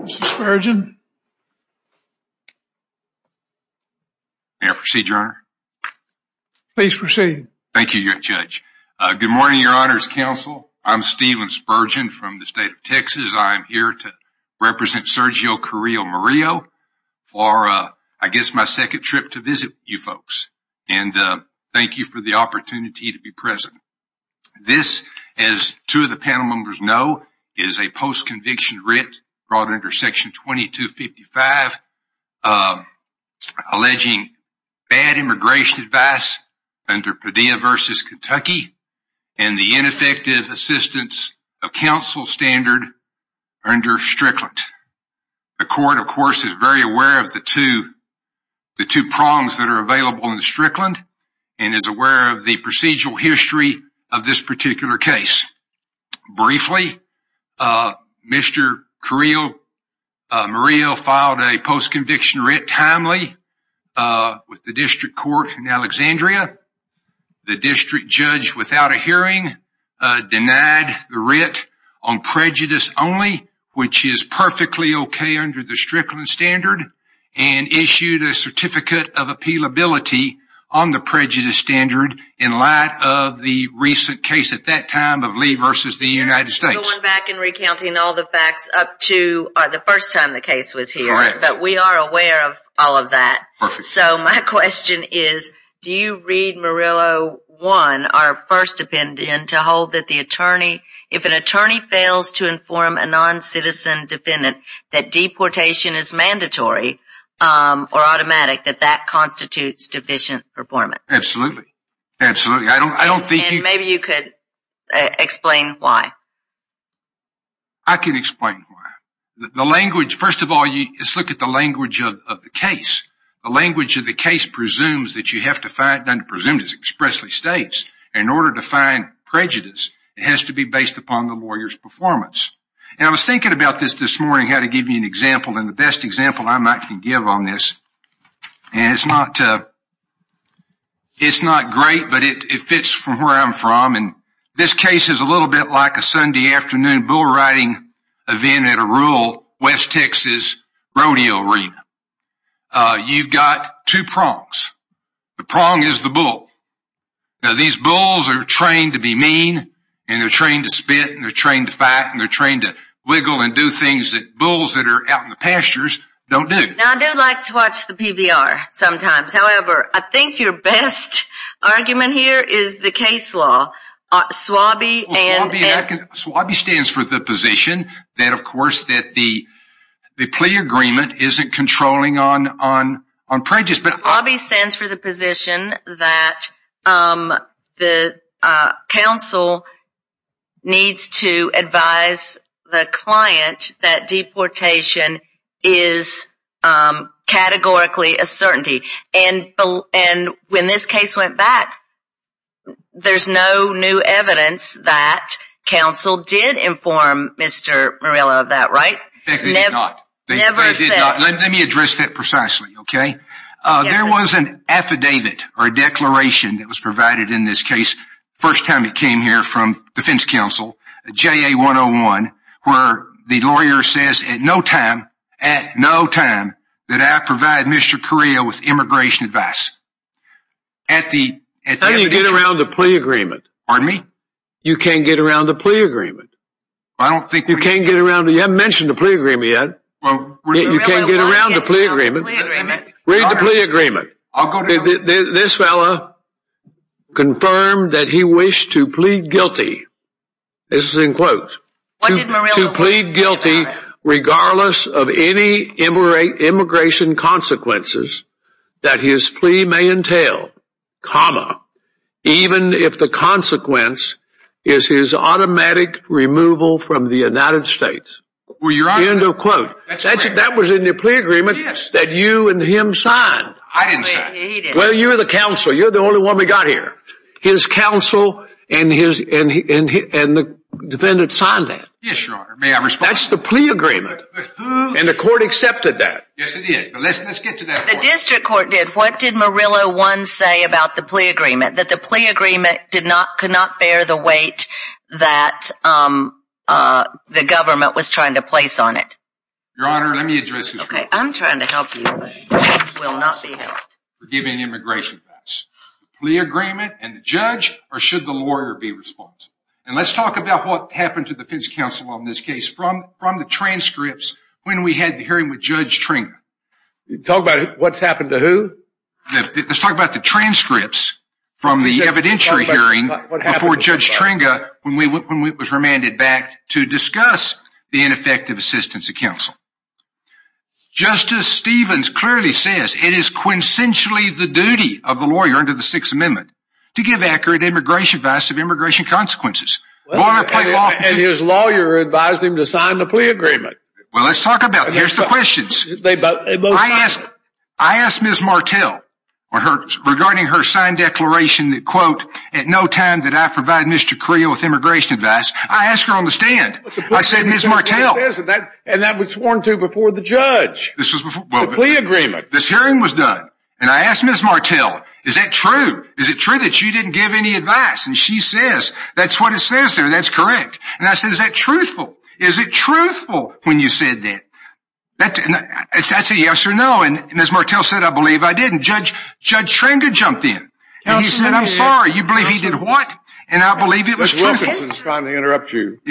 Mr. Spurgeon. May I proceed, Your Honor? Please proceed. Thank you, Your Judge. Good morning, Your Honor's counsel. I'm Stephen Spurgeon from the state of Texas. I'm here to represent Sergio Carrillo Murillo for, I guess, my second trip to visit you folks. And thank you for the opportunity to be present. This, as two of the panel members know, is a post-conviction writ brought under Section 2255 alleging bad immigration advice under Padilla v. Kentucky and the ineffective assistance of counsel standard under Strickland. The court, of course, is very aware of the two prongs that are available in Strickland and is aware of the procedural history of this particular case. Briefly, Mr. Carrillo Murillo filed a post-conviction writ timely with the district court in Alexandria. The district judge, without a hearing, denied the writ on prejudice only, which is perfectly okay under the Strickland standard, and issued a certificate of appealability on the prejudice standard in light of the recent case at that time of Lee v. the United States. Going back and recounting all the facts up to the first time the case was here. But we are aware of all of that. So my question is, do you read Murillo 1, our first opinion, to hold that if an attorney fails to inform a non-citizen defendant that deportation is mandatory or automatic, that that constitutes deficient performance? Absolutely. Maybe you could explain why. I can explain why. First of all, let's look at the language of the case. The language of the case presumes that you have to find, and presumes expressly states, in order to find prejudice, it has to be based upon the lawyer's performance. And I was thinking about this this morning, how to give you an example and the best example I might can give on this. And it's not great, but it fits from where I'm from. And this case is a little bit like a Sunday afternoon bull riding event at a rural West Texas rodeo arena. You've got two prongs. The prong is the bull. Now, these bulls are trained to be mean, and they're trained to spit, and they're trained to fight, and they're trained to wiggle and do things that bulls that are out in the pastures don't do. Now, I do like to watch the PBR sometimes. However, I think your best argument here is the case law. SWABI stands for the position that, of course, that the plea agreement isn't controlling on prejudice. SWABI stands for the position that the counsel needs to advise the client that deportation is categorically a certainty. And when this case went back, there's no new evidence that counsel did inform Mr. Murillo of that, right? They did not. They never said. Let me address that precisely, OK? There was an affidavit or a declaration that was provided in this case first time it came here from defense counsel, JA 101, where the lawyer says at no time, at no time, that I provide Mr. Carrillo with immigration advice. How do you get around the plea agreement? Pardon me? You can't get around the plea agreement. I don't think... You can't get around... You haven't mentioned the plea agreement yet. You can't get around the plea agreement. Read the plea agreement. This fellow confirmed that he wished to plead guilty. This is in quotes. To plead guilty regardless of any immigration consequences that his plea may entail, comma, even if the consequence is his automatic removal from the United States. End of quote. That was in the plea agreement that you and him signed. I didn't sign it. Well, you're the counsel. You're the only one we got here. His counsel and the defendant signed that. Yes, Your Honor. May I respond? That's the plea agreement. And the court accepted that. Yes, it did. But let's get to that point. The district court did. What did Murillo 1 say about the plea agreement? That the plea agreement could not bear the weight that the government was trying to place on it. Your Honor, let me address this. Okay. I'm trying to help you, but you will not be helped. Forgiving immigration pass. The plea agreement and the judge, or should the lawyer be responsible? And let's talk about what happened to the defense counsel on this case from the transcripts when we had the hearing with Judge Tringa. Talk about what's happened to who? Let's talk about the transcripts from the evidentiary hearing before Judge Tringa when it was remanded back to discuss the ineffective assistance of counsel. Justice Stevens clearly says it is quintessentially the duty of the lawyer under the Sixth Amendment to give accurate immigration advice of immigration consequences. And his lawyer advised him to sign the plea agreement. Well, let's talk about it. Here's the questions. I asked Ms. Martel regarding her signed declaration that quote, at no time did I provide Mr. Carrillo with immigration advice. I asked her on the stand. I said, Ms. Martel. And that was sworn to before the judge. This was before the plea agreement. This hearing was done. And I asked Ms. Martel, is that true? Is it true that you didn't give any advice? And she says, that's what it says there. That's correct. And I said, is that truthful? Is it truthful when you said that? That's a yes or no. And Ms. Martel said, I believe I didn't. Judge Tringa jumped in. And he said, I'm sorry. You believe he did what? And I believe it was truthful. Ms. Wilkinson, it's fine to interrupt you. And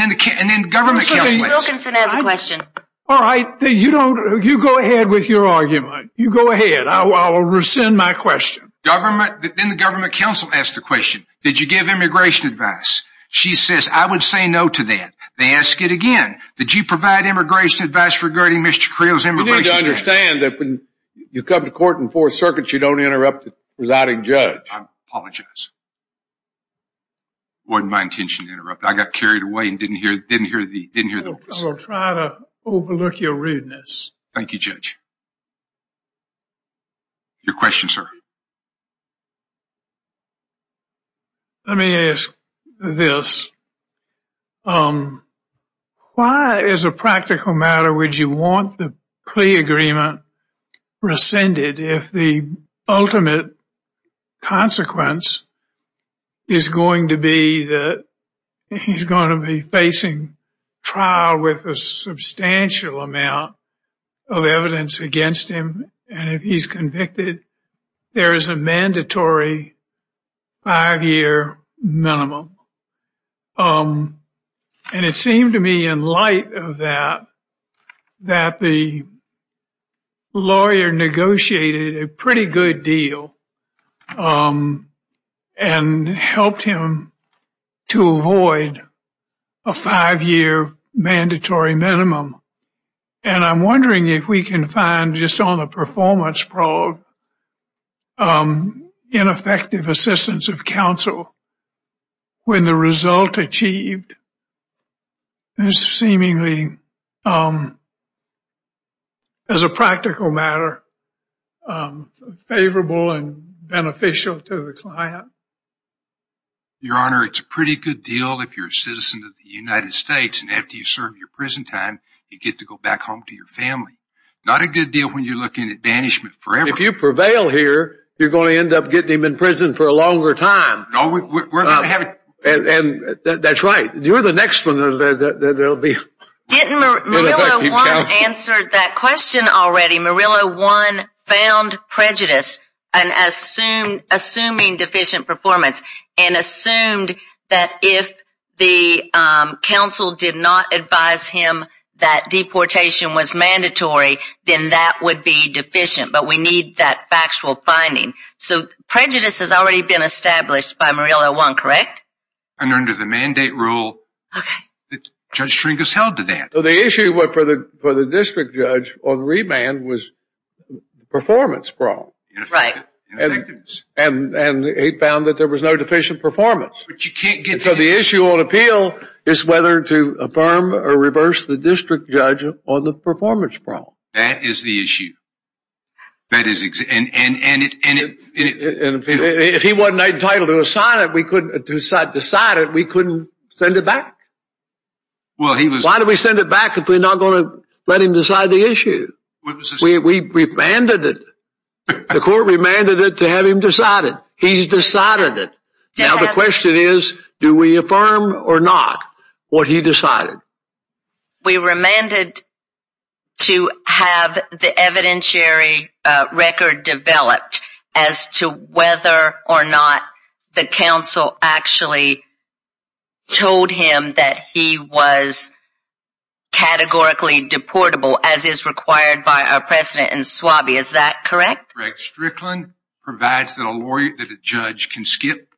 then the government counsel asked a question. All right. You go ahead with your argument. You go ahead. I will rescind my question. Then the government counsel asked the question, did you give immigration advice? She says, I would say no to that. They ask it again. Did you provide immigration advice regarding Mr. Carrillo's immigration? You need to understand that when you come to court in Fourth Circuit, you don't interrupt the presiding judge. I apologize. It wasn't my intention to interrupt. I got carried away and didn't hear the voice. I will try to overlook your rudeness. Thank you, Judge. Your question, sir. Let me ask this. Why, as a practical matter, would you want the plea agreement rescinded if the ultimate consequence is going to be that he's going to be facing trial with a substantial amount of evidence against him? And if he's convicted, there is a mandatory five-year minimum. And it seemed to me, in light of that, that the lawyer negotiated a pretty good deal and helped him to avoid a five-year mandatory minimum. And I'm wondering if we can find, just on the performance probe, an ineffective assistance of counsel when the result achieved is seemingly, as a practical matter, favorable and beneficial to the client. Your Honor, it's a pretty good deal if you're a citizen of the United States and after you serve your prison time, you get to go back home to your family. Not a good deal when you're looking at banishment forever. If you prevail here, you're going to end up getting him in prison for a longer time. And that's right. You're the next one that will be. Didn't Murillo 1 answer that question already? Murillo 1 found prejudice and assuming deficient performance and assumed that if the counsel did not advise him that deportation was mandatory, then that would be deficient. But we need that factual finding. So prejudice has already been established by Murillo 1, correct? And under the mandate rule, Judge Trinkaus held to that. So the issue for the district judge on remand was performance problem. Right. And he found that there was no deficient performance. But you can't get... So the issue on appeal is whether to affirm or reverse the district judge on the performance problem. That is the issue. That is... If he wasn't entitled to assign it, we couldn't decide it. We couldn't send it back. Well, he was... Why do we send it back if we're not going to let him decide the issue? We remanded it. The court remanded it to have him decided. He decided it. Now, the question is, do we affirm or not what he decided? We remanded to have the evidentiary record developed as to whether or not the council actually told him that he was categorically deportable, as is required by our precedent in SWABI. Is that correct? Correct. Strickland provides that a lawyer, that a judge can skip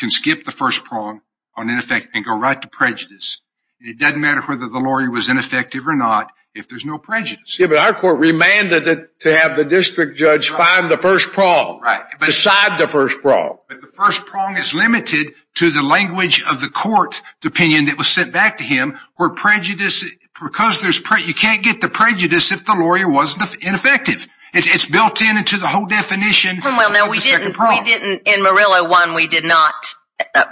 the first prong on ineffective and go right to prejudice. It doesn't matter whether the lawyer was ineffective or not, if there's no prejudice. Yeah, but our court remanded it to have the district judge find the first prong, decide the first prong. But the first prong is limited to the language of the court, the opinion that was sent back to him, where prejudice, because there's prejudice, you can't get the prejudice if the lawyer wasn't ineffective. It's built in into the whole definition of the second prong. In Murillo 1, we did not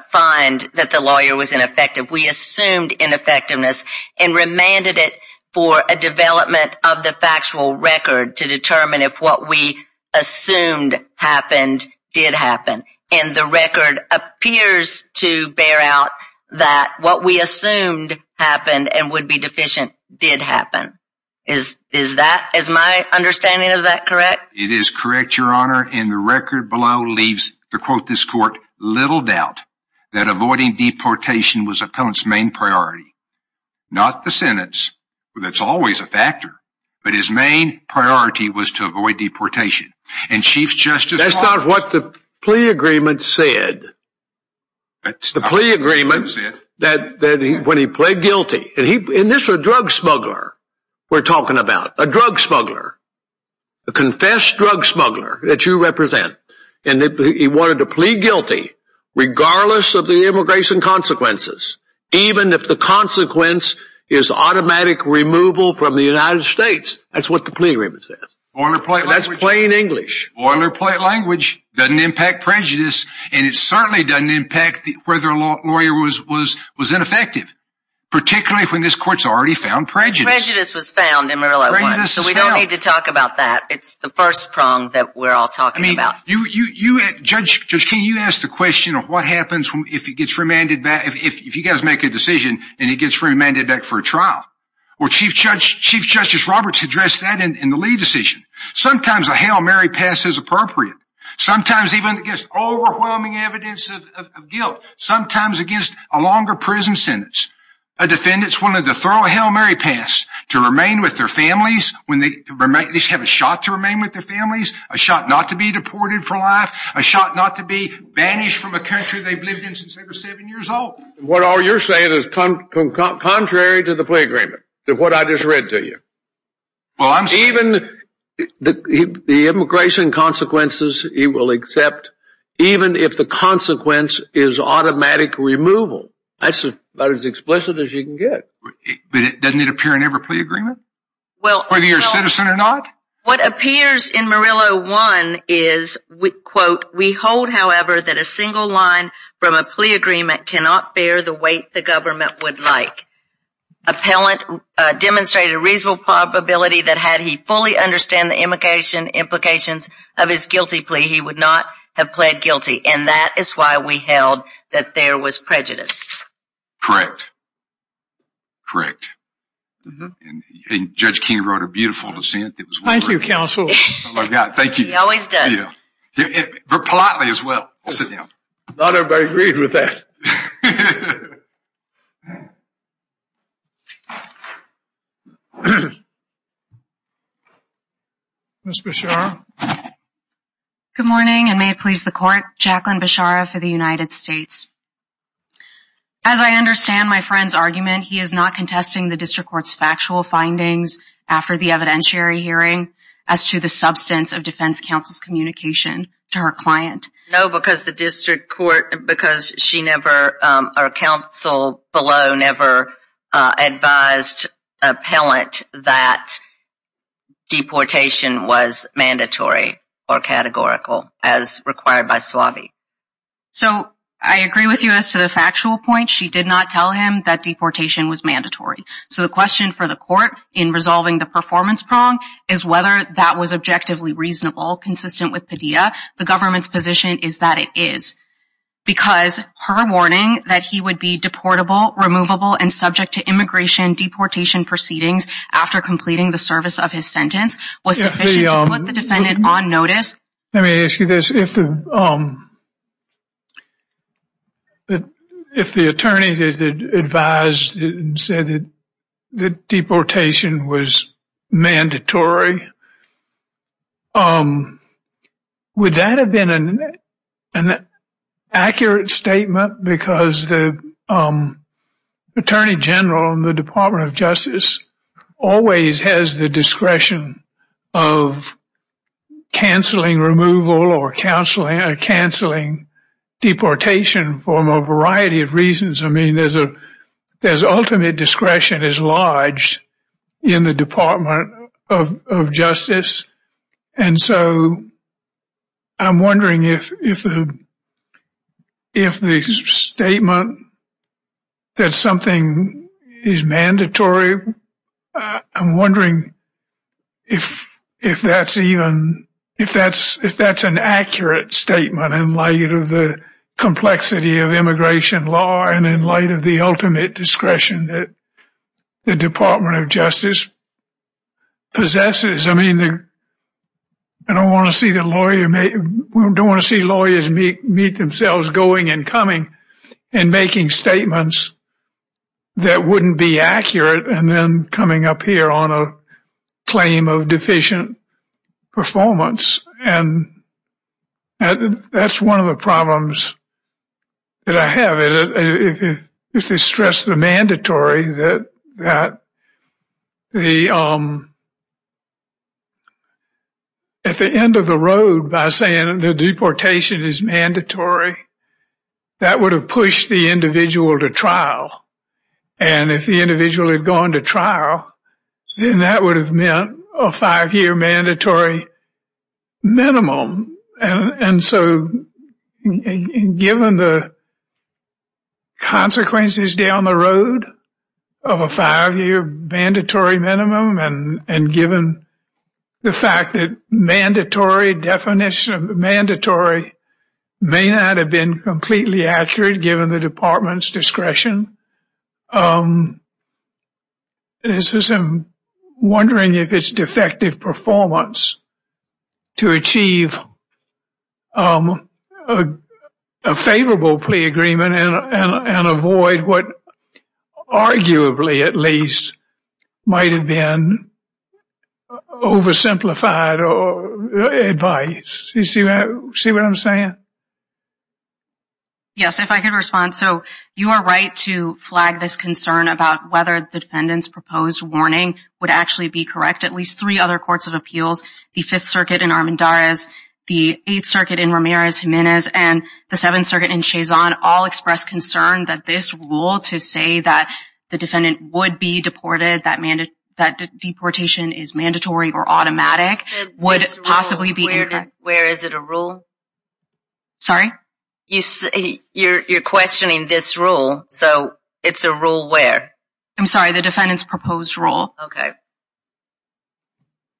find that the lawyer was ineffective. We assumed ineffectiveness and remanded it for a development of the factual record to determine if what we assumed happened did happen. And the record appears to bear out that what we assumed happened and would be deficient did happen. Is that, is my understanding of that correct? It is correct, Your Honor. And the record below leaves, to quote this court, little doubt that avoiding deportation was appellant's main priority. Not the sentence, that's always a factor, but his main priority was to avoid deportation. And Chief Justice- That's not what the plea agreement said. The plea agreement that when he pled guilty, and this is a drug smuggler we're talking about, a drug smuggler, a confessed drug smuggler that you represent, and he wanted to plea guilty regardless of the immigration consequences, even if the consequence is automatic removal from the United States. That's what the plea agreement said. Boilerplate language- That's plain English. Boilerplate language doesn't impact prejudice, and it certainly doesn't impact whether a lawyer was ineffective, particularly when this court's already found prejudice. Prejudice was found in Murillo 1, so we don't need to talk about that. It's the first prong that we're all talking about. I mean, Judge King, you asked the question of what happens if he gets remanded back, if you guys make a decision and he gets remanded back for a trial. Well, Chief Justice Roberts addressed that in the Lee decision. Sometimes a Hail Mary pass is appropriate. Sometimes even against overwhelming evidence of guilt. Sometimes against a longer prison sentence. A defendant's willing to throw a Hail Mary pass to remain with their families when they have a shot to remain with their families, a shot not to be deported for life, a shot not to be banished from a country they've lived in since they were seven years old. What all you're saying is contrary to the plea agreement, to what I just read to you. Well, I'm- Even the immigration consequences he will accept, even if the consequence is automatic removal. That's about as explicit as you can get. But doesn't it appear in every plea agreement? Well- Whether you're a citizen or not? What appears in Murillo 1 is, quote, we hold, however, that a single line from a plea agreement cannot bear the weight the government would like. Appellant demonstrated a reasonable probability that had he fully understand the implications of his guilty plea, he would not have pled guilty. And that is why we held that there was prejudice. Correct. Correct. And Judge King wrote a beautiful dissent. Thank you, counsel. Thank you. He always does. Politely as well. Sit down. Not everybody agreed with that. Ms. Bechara. Good morning and may it please the court. Jacqueline Bechara for the United States. As I understand my friend's argument, he is not contesting the district court's factual findings after the evidentiary hearing as to the substance of defense counsel's communication to her client. No, because the district court, because she never, our counsel below never advised appellant that deportation was mandatory or categorical as required by SWABI. So I agree with you as to the factual point. She did not tell him that deportation was mandatory. So the question for the court in resolving the performance prong is whether that was objectively reasonable, consistent with Padilla. The government's position is that it is. Because her warning that he would be deportable, removable and subject to immigration deportation proceedings after completing the service of his sentence was sufficient to put the defendant on notice. Let me ask you this. If the attorney advised and said that deportation was mandatory, would that have been an accurate statement? Because the attorney general in the Department of Justice always has the discretion of canceling removal or canceling deportation for a variety of reasons. I mean, there's ultimate discretion is large in the Department of Justice. And so I'm wondering if the statement that something is mandatory, I'm wondering if that's an accurate statement in light of the complexity of immigration law and in light of the ultimate discretion that the Department of Justice possesses. I mean, I don't want to see lawyers meet themselves going and coming and making statements that wouldn't be accurate and then coming up here on a claim of deficient performance. And that's one of the problems that I have. If they stress the mandatory, at the end of the road by saying the deportation is mandatory, that would have pushed the individual to trial. And if the individual had gone to trial, then that would have meant a five-year mandatory minimum. And so given the consequences down the road of a five-year mandatory minimum and given the fact that mandatory definition, mandatory may not have been completely accurate given the department's discretion. And this is I'm wondering if it's defective performance to achieve a favorable plea agreement and avoid what arguably at least might have been oversimplified advice. See what I'm saying? Yes, if I could respond. So you are right to flag this concern about whether the defendant's proposed warning would actually be correct. At least three other courts of appeals, the Fifth Circuit in Armendariz, the Eighth Circuit in Ramirez-Jimenez and the Seventh Circuit in Chazon all expressed concern that this rule to say that the defendant would be deported, that deportation is mandatory or automatic would possibly be incorrect. Where is it a rule? Sorry? You're questioning this rule. So it's a rule where? I'm sorry, the defendant's proposed rule.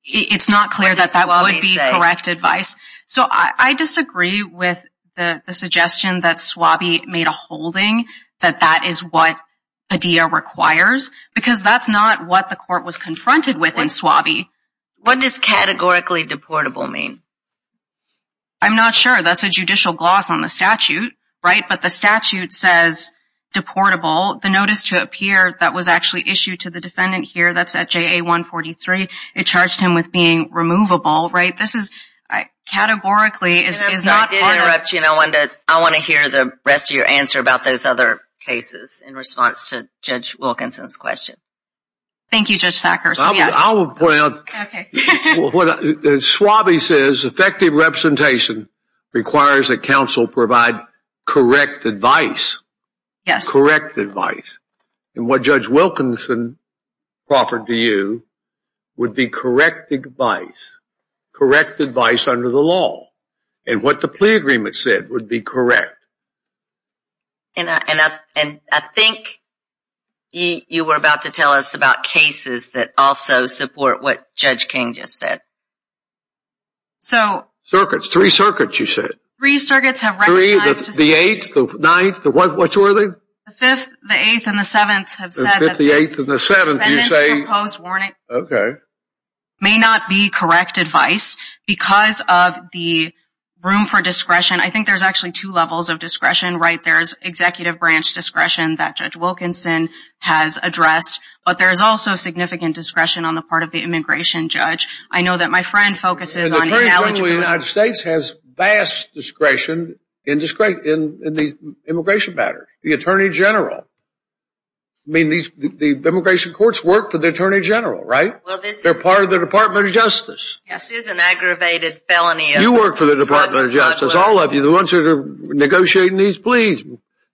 It's not clear that that would be correct advice. So I disagree with the suggestion that SWABI made a holding that that is what Padilla requires because that's not what the court was confronted with in SWABI. What does categorically deportable mean? I'm not sure. That's a judicial gloss on the statute, right? But the statute says deportable. The notice to appear that was actually issued to the defendant here, that's at JA-143, it charged him with being removable, right? This is categorically is not- I did interrupt you and I want to hear the rest of your answer about those other cases in response to Judge Wilkinson's question. Thank you, Judge Thacker. I'll point out what SWABI says, effective representation requires that counsel provide correct advice. Yes. Correct advice. And what Judge Wilkinson offered to you would be correct advice. Correct advice under the law. And what the plea agreement said would be correct. And I think you were about to tell us about cases that also support what Judge King just said. So- Three circuits, you said. Three circuits have recognized- The eighth, the ninth, the- Which were they? The fifth, the eighth, and the seventh have said- The fifth, the eighth, and the seventh, you say- Defendant's proposed warning- Okay. May not be correct advice because of the room for discretion. I think there's actually two levels of discretion, right? There's executive branch discretion that Judge Wilkinson has addressed, but there's also significant discretion on the part of the immigration judge. I know that my friend focuses on- The Attorney General of the United States has vast discretion in the immigration matter. The Attorney General. I mean, the immigration courts work for the Attorney General, right? Well, this is- They're part of the Department of Justice. This is an aggravated felony- You work for the Department of Justice, all of you. The ones who are negotiating these pleas,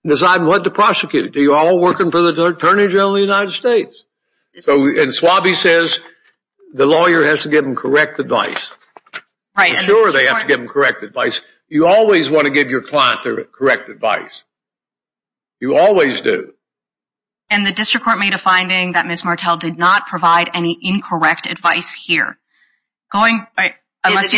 deciding what to prosecute. Do you all work for the Attorney General of the United States? And Swabie says, the lawyer has to give them correct advice. Sure, they have to give them correct advice. You always want to give your client their correct advice. You always do. And the district court made a finding that Ms. Martel did not provide any incorrect advice here. The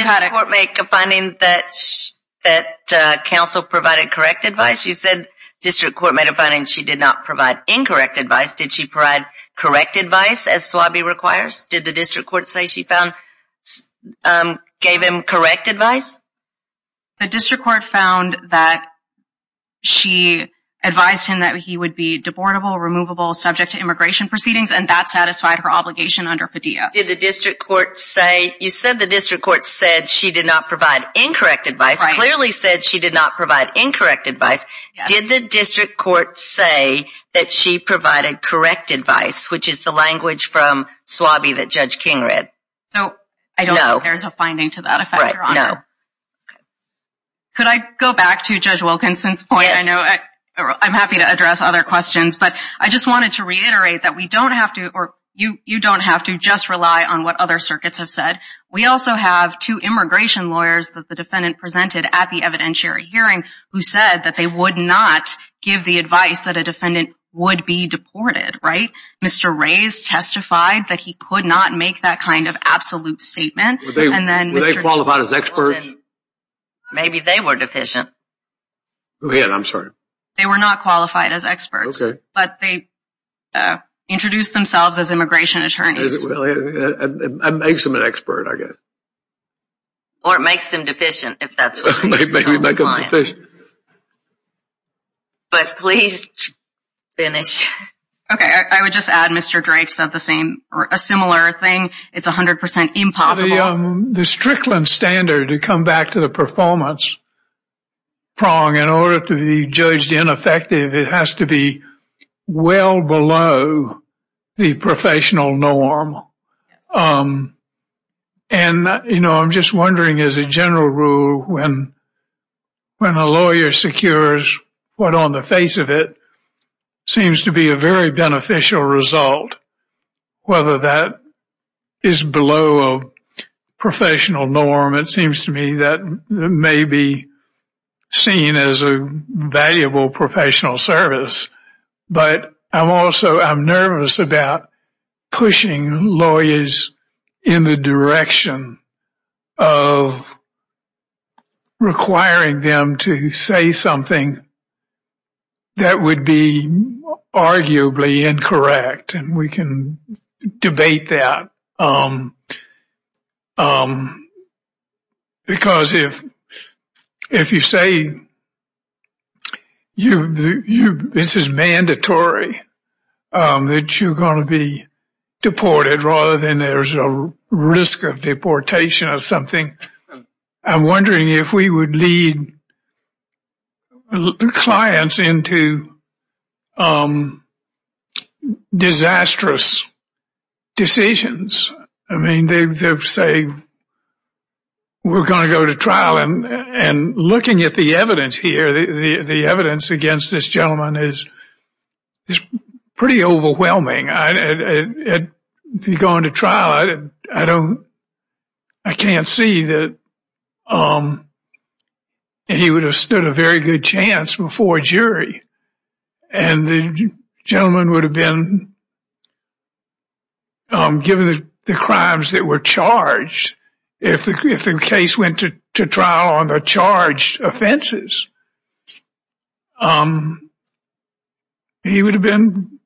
district court made a finding that counsel provided correct advice. You said district court made a finding she did not provide incorrect advice. Did she provide correct advice as Swabie requires? Did the district court say she found- gave him correct advice? The district court found that she advised him that he would be debortable, removable, subject to immigration proceedings, and that satisfied her obligation under Padilla. Did the district court say- You said the district court said she did not provide incorrect advice, clearly said she did not provide incorrect advice. Did the district court say that she provided correct advice, which is the language from Swabie that Judge King read? So, I don't think there's a finding to that effect, Your Honor. Could I go back to Judge Wilkinson's point? I know I'm happy to address other questions, but I just wanted to reiterate that we don't have to, or you don't have to, just rely on what other circuits have said. We also have two immigration lawyers that the defendant presented at the evidentiary hearing who said that they would not give the advice that a defendant would be deported, right? Mr. Reyes testified that he could not make that kind of absolute statement, and then Mr.- Were they qualified as experts? Maybe they were deficient. Go ahead, I'm sorry. They were not qualified as experts, but they introduced themselves as immigration attorneys. Is it really? It makes them an expert, I guess. Or it makes them deficient, if that's what you're trying to imply. But please finish. Okay, I would just add, Mr. Drake said the same, a similar thing. It's 100% impossible. The Strickland standard, to come back to the performance prong, in order to be judged ineffective, it has to be well below the professional norm. And, you know, I'm just wondering, as a general rule, when a lawyer secures what, on the face of it, seems to be a very beneficial result, whether that is below a professional norm, it seems to me that may be seen as a valuable professional service. But I'm also, I'm nervous about pushing lawyers in the direction of requiring them to say something that would be arguably incorrect. And we can debate that. Because if you say, this is mandatory, that you're going to be deported, rather than there's a risk of deportation or something. I'm wondering if we would lead clients into disastrous decisions. I mean, they say, we're going to go to trial. And looking at the evidence here, the evidence against this gentleman is pretty overwhelming. If he'd gone to trial, I can't see that he would have stood a very good chance before a jury. And the gentleman would have been given the crimes that were charged if the case went to trial on the charged offenses. He would have been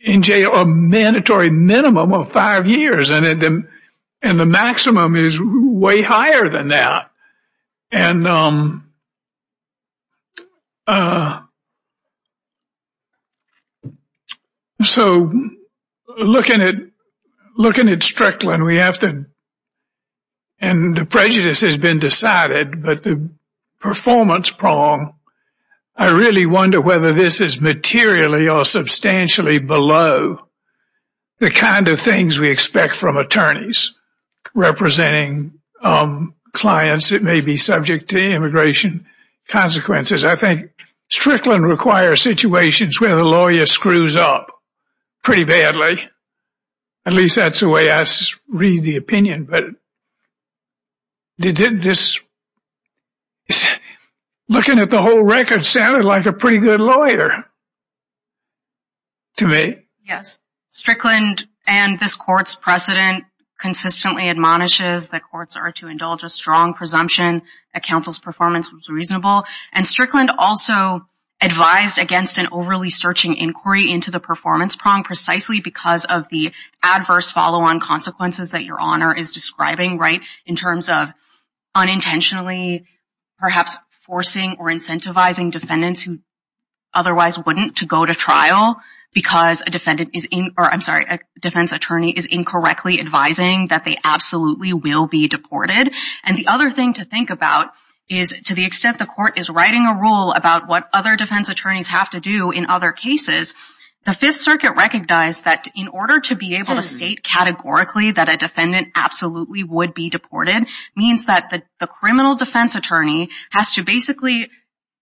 in jail a mandatory minimum of five years. And the maximum is way higher than that. So looking at Strickland, and the prejudice has been decided, but the performance prong, I really wonder whether this is materially or substantially below the kind of things we expect from attorneys representing clients that may be subject to immigration consequences. I think Strickland requires situations where the lawyer screws up pretty badly. At least that's the way I read the opinion. Looking at the whole record, sounded like a pretty good lawyer. To me? Strickland and this court's precedent consistently admonishes that courts are to indulge a strong presumption that counsel's performance was reasonable. And Strickland also advised against an overly searching inquiry into the performance prong precisely because of the adverse follow-on consequences that Your Honor is describing, right? In terms of unintentionally, perhaps forcing or incentivizing defendants otherwise wouldn't to go to trial because a defendant is in, or I'm sorry, a defense attorney is incorrectly advising that they absolutely will be deported. And the other thing to think about is to the extent the court is writing a rule about what other defense attorneys have to do in other cases, the Fifth Circuit recognized that in order to be able to state categorically that a defendant absolutely would be deported means that the criminal defense attorney has to basically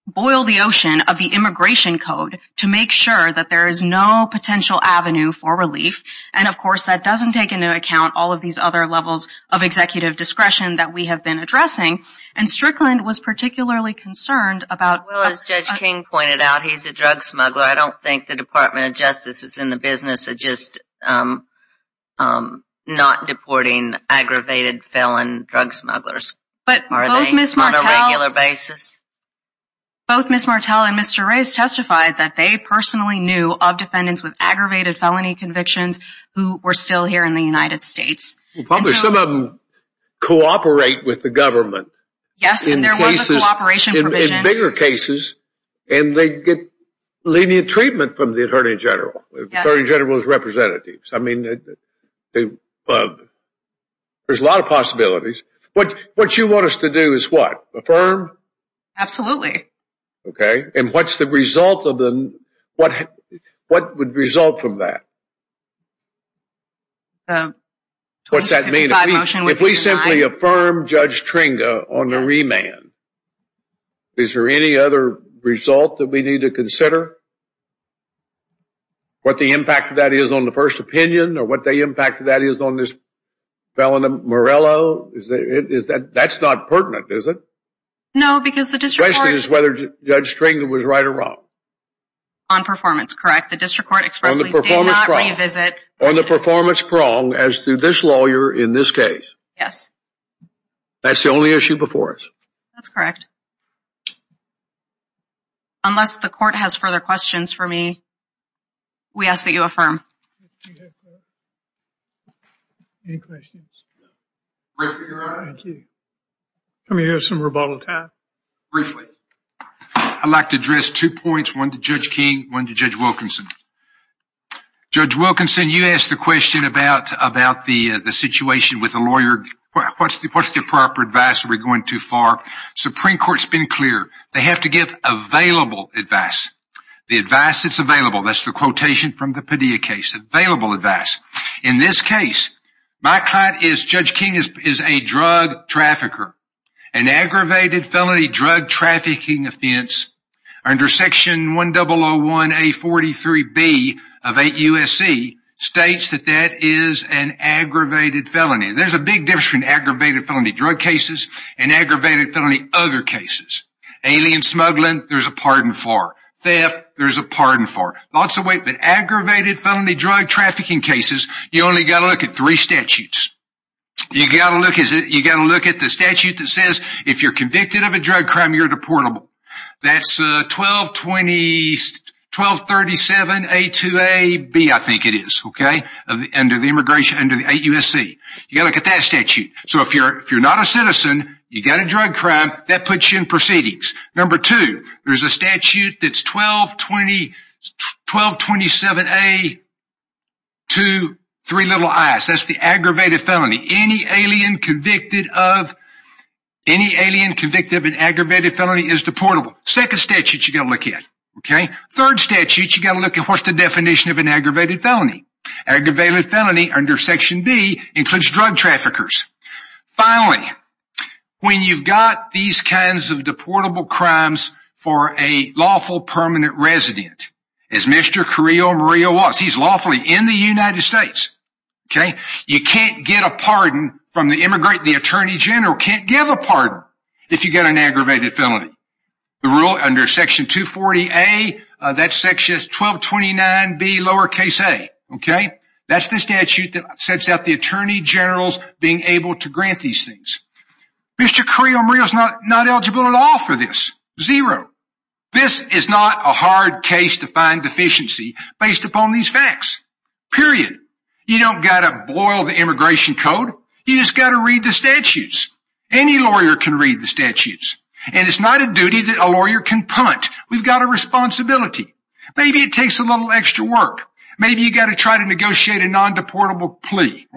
boil the ocean of the immigration code to make sure that there is no potential avenue for relief. And of course, that doesn't take into account all of these other levels of executive discretion that we have been addressing. And Strickland was particularly concerned about- Well, as Judge King pointed out, he's a drug smuggler. I don't think the Department of Justice is in the business of just not deporting aggravated felon drug smugglers. Are they on a regular basis? Both Ms. Martel and Mr. Reyes testified that they personally knew of defendants with aggravated felony convictions who were still here in the United States. Probably some of them cooperate with the government. Yes, and there was a cooperation provision. In bigger cases, and they get lenient treatment from the attorney general, attorney general's representatives. I mean, there's a lot of possibilities. What you want us to do is what? Absolutely. Okay. And what's the result of them? What would result from that? What's that mean? If we simply affirm Judge Tringa on the remand, is there any other result that we need to consider? What the impact of that is on the first opinion or what the impact of that is on this felon Morello? Is that, that's not pertinent, is it? No, because the district court... The question is whether Judge Tringa was right or wrong. On performance, correct. The district court expressly did not revisit... On the performance prong as to this lawyer in this case. Yes. That's the only issue before us. That's correct. Unless the court has further questions for me, we ask that you affirm. Any questions? Thank you. I'm going to have some rebuttal time. Briefly. I'd like to address two points. One to Judge King, one to Judge Wilkinson. Judge Wilkinson, you asked the question about the situation with the lawyer. What's the proper advice? Are we going too far? Supreme Court's been clear. They have to give available advice. The advice that's available. That's the quotation from the Padilla case. Available advice. In this case, my client is... Judge King is a drug trafficker. An aggravated felony drug trafficking offense under section 1001A43B of 8 USC states that that is an aggravated felony. There's a big difference between aggravated felony drug cases and aggravated felony other cases. Alien smuggling, there's a pardon for. Theft, there's a pardon for. Lots of weight. Aggravated felony drug trafficking cases, you only got to look at three statutes. You got to look at the statute that says, if you're convicted of a drug crime, you're deportable. That's 1237A2AB, I think it is. Under the immigration, under the 8 USC. You got to look at that statute. So if you're not a citizen, you got a drug crime, that puts you in proceedings. Number two, there's a statute that's 1227A23i, that's the aggravated felony. Any alien convicted of an aggravated felony is deportable. Second statute you got to look at. Third statute, you got to look at what's the definition of an aggravated felony. Aggravated felony under section B includes drug traffickers. Finally, when you've got these kinds of deportable crimes for a lawful permanent resident, as Mr. Carrillo Maria was, he's lawfully in the United States. You can't get a pardon from the immigrant. The attorney general can't give a pardon if you get an aggravated felony. The rule under section 240A, that section is 1229B lowercase a. That's the statute that sets out the attorney generals being able to grant these things. Mr. Carrillo Maria is not eligible at all for this, zero. This is not a hard case to find deficiency based upon these facts, period. You don't got to boil the immigration code. You just got to read the statutes. Any lawyer can read the statutes and it's not a duty that a lawyer can punt. We've got a responsibility. Maybe it takes a little extra work. Maybe you got to try to negotiate a non-deportable plea.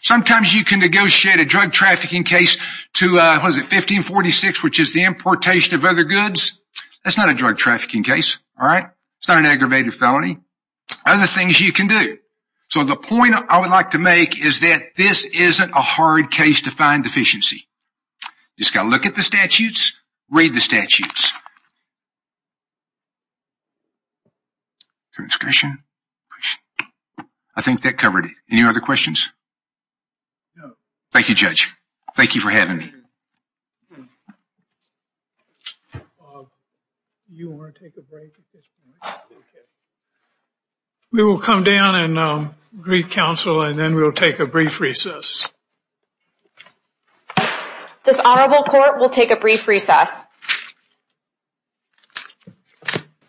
Sometimes you can negotiate a drug trafficking case to 1546, which is the importation of other goods. That's not a drug trafficking case. It's not an aggravated felony. Other things you can do. So the point I would like to make is that this isn't a hard case to find deficiency. You just got to look at the statutes, read the statutes. I think that covered it. Any other questions? Thank you, Judge. Thank you for having me. We will come down and greet counsel and then we'll take a brief recess. This honorable court will take a brief recess.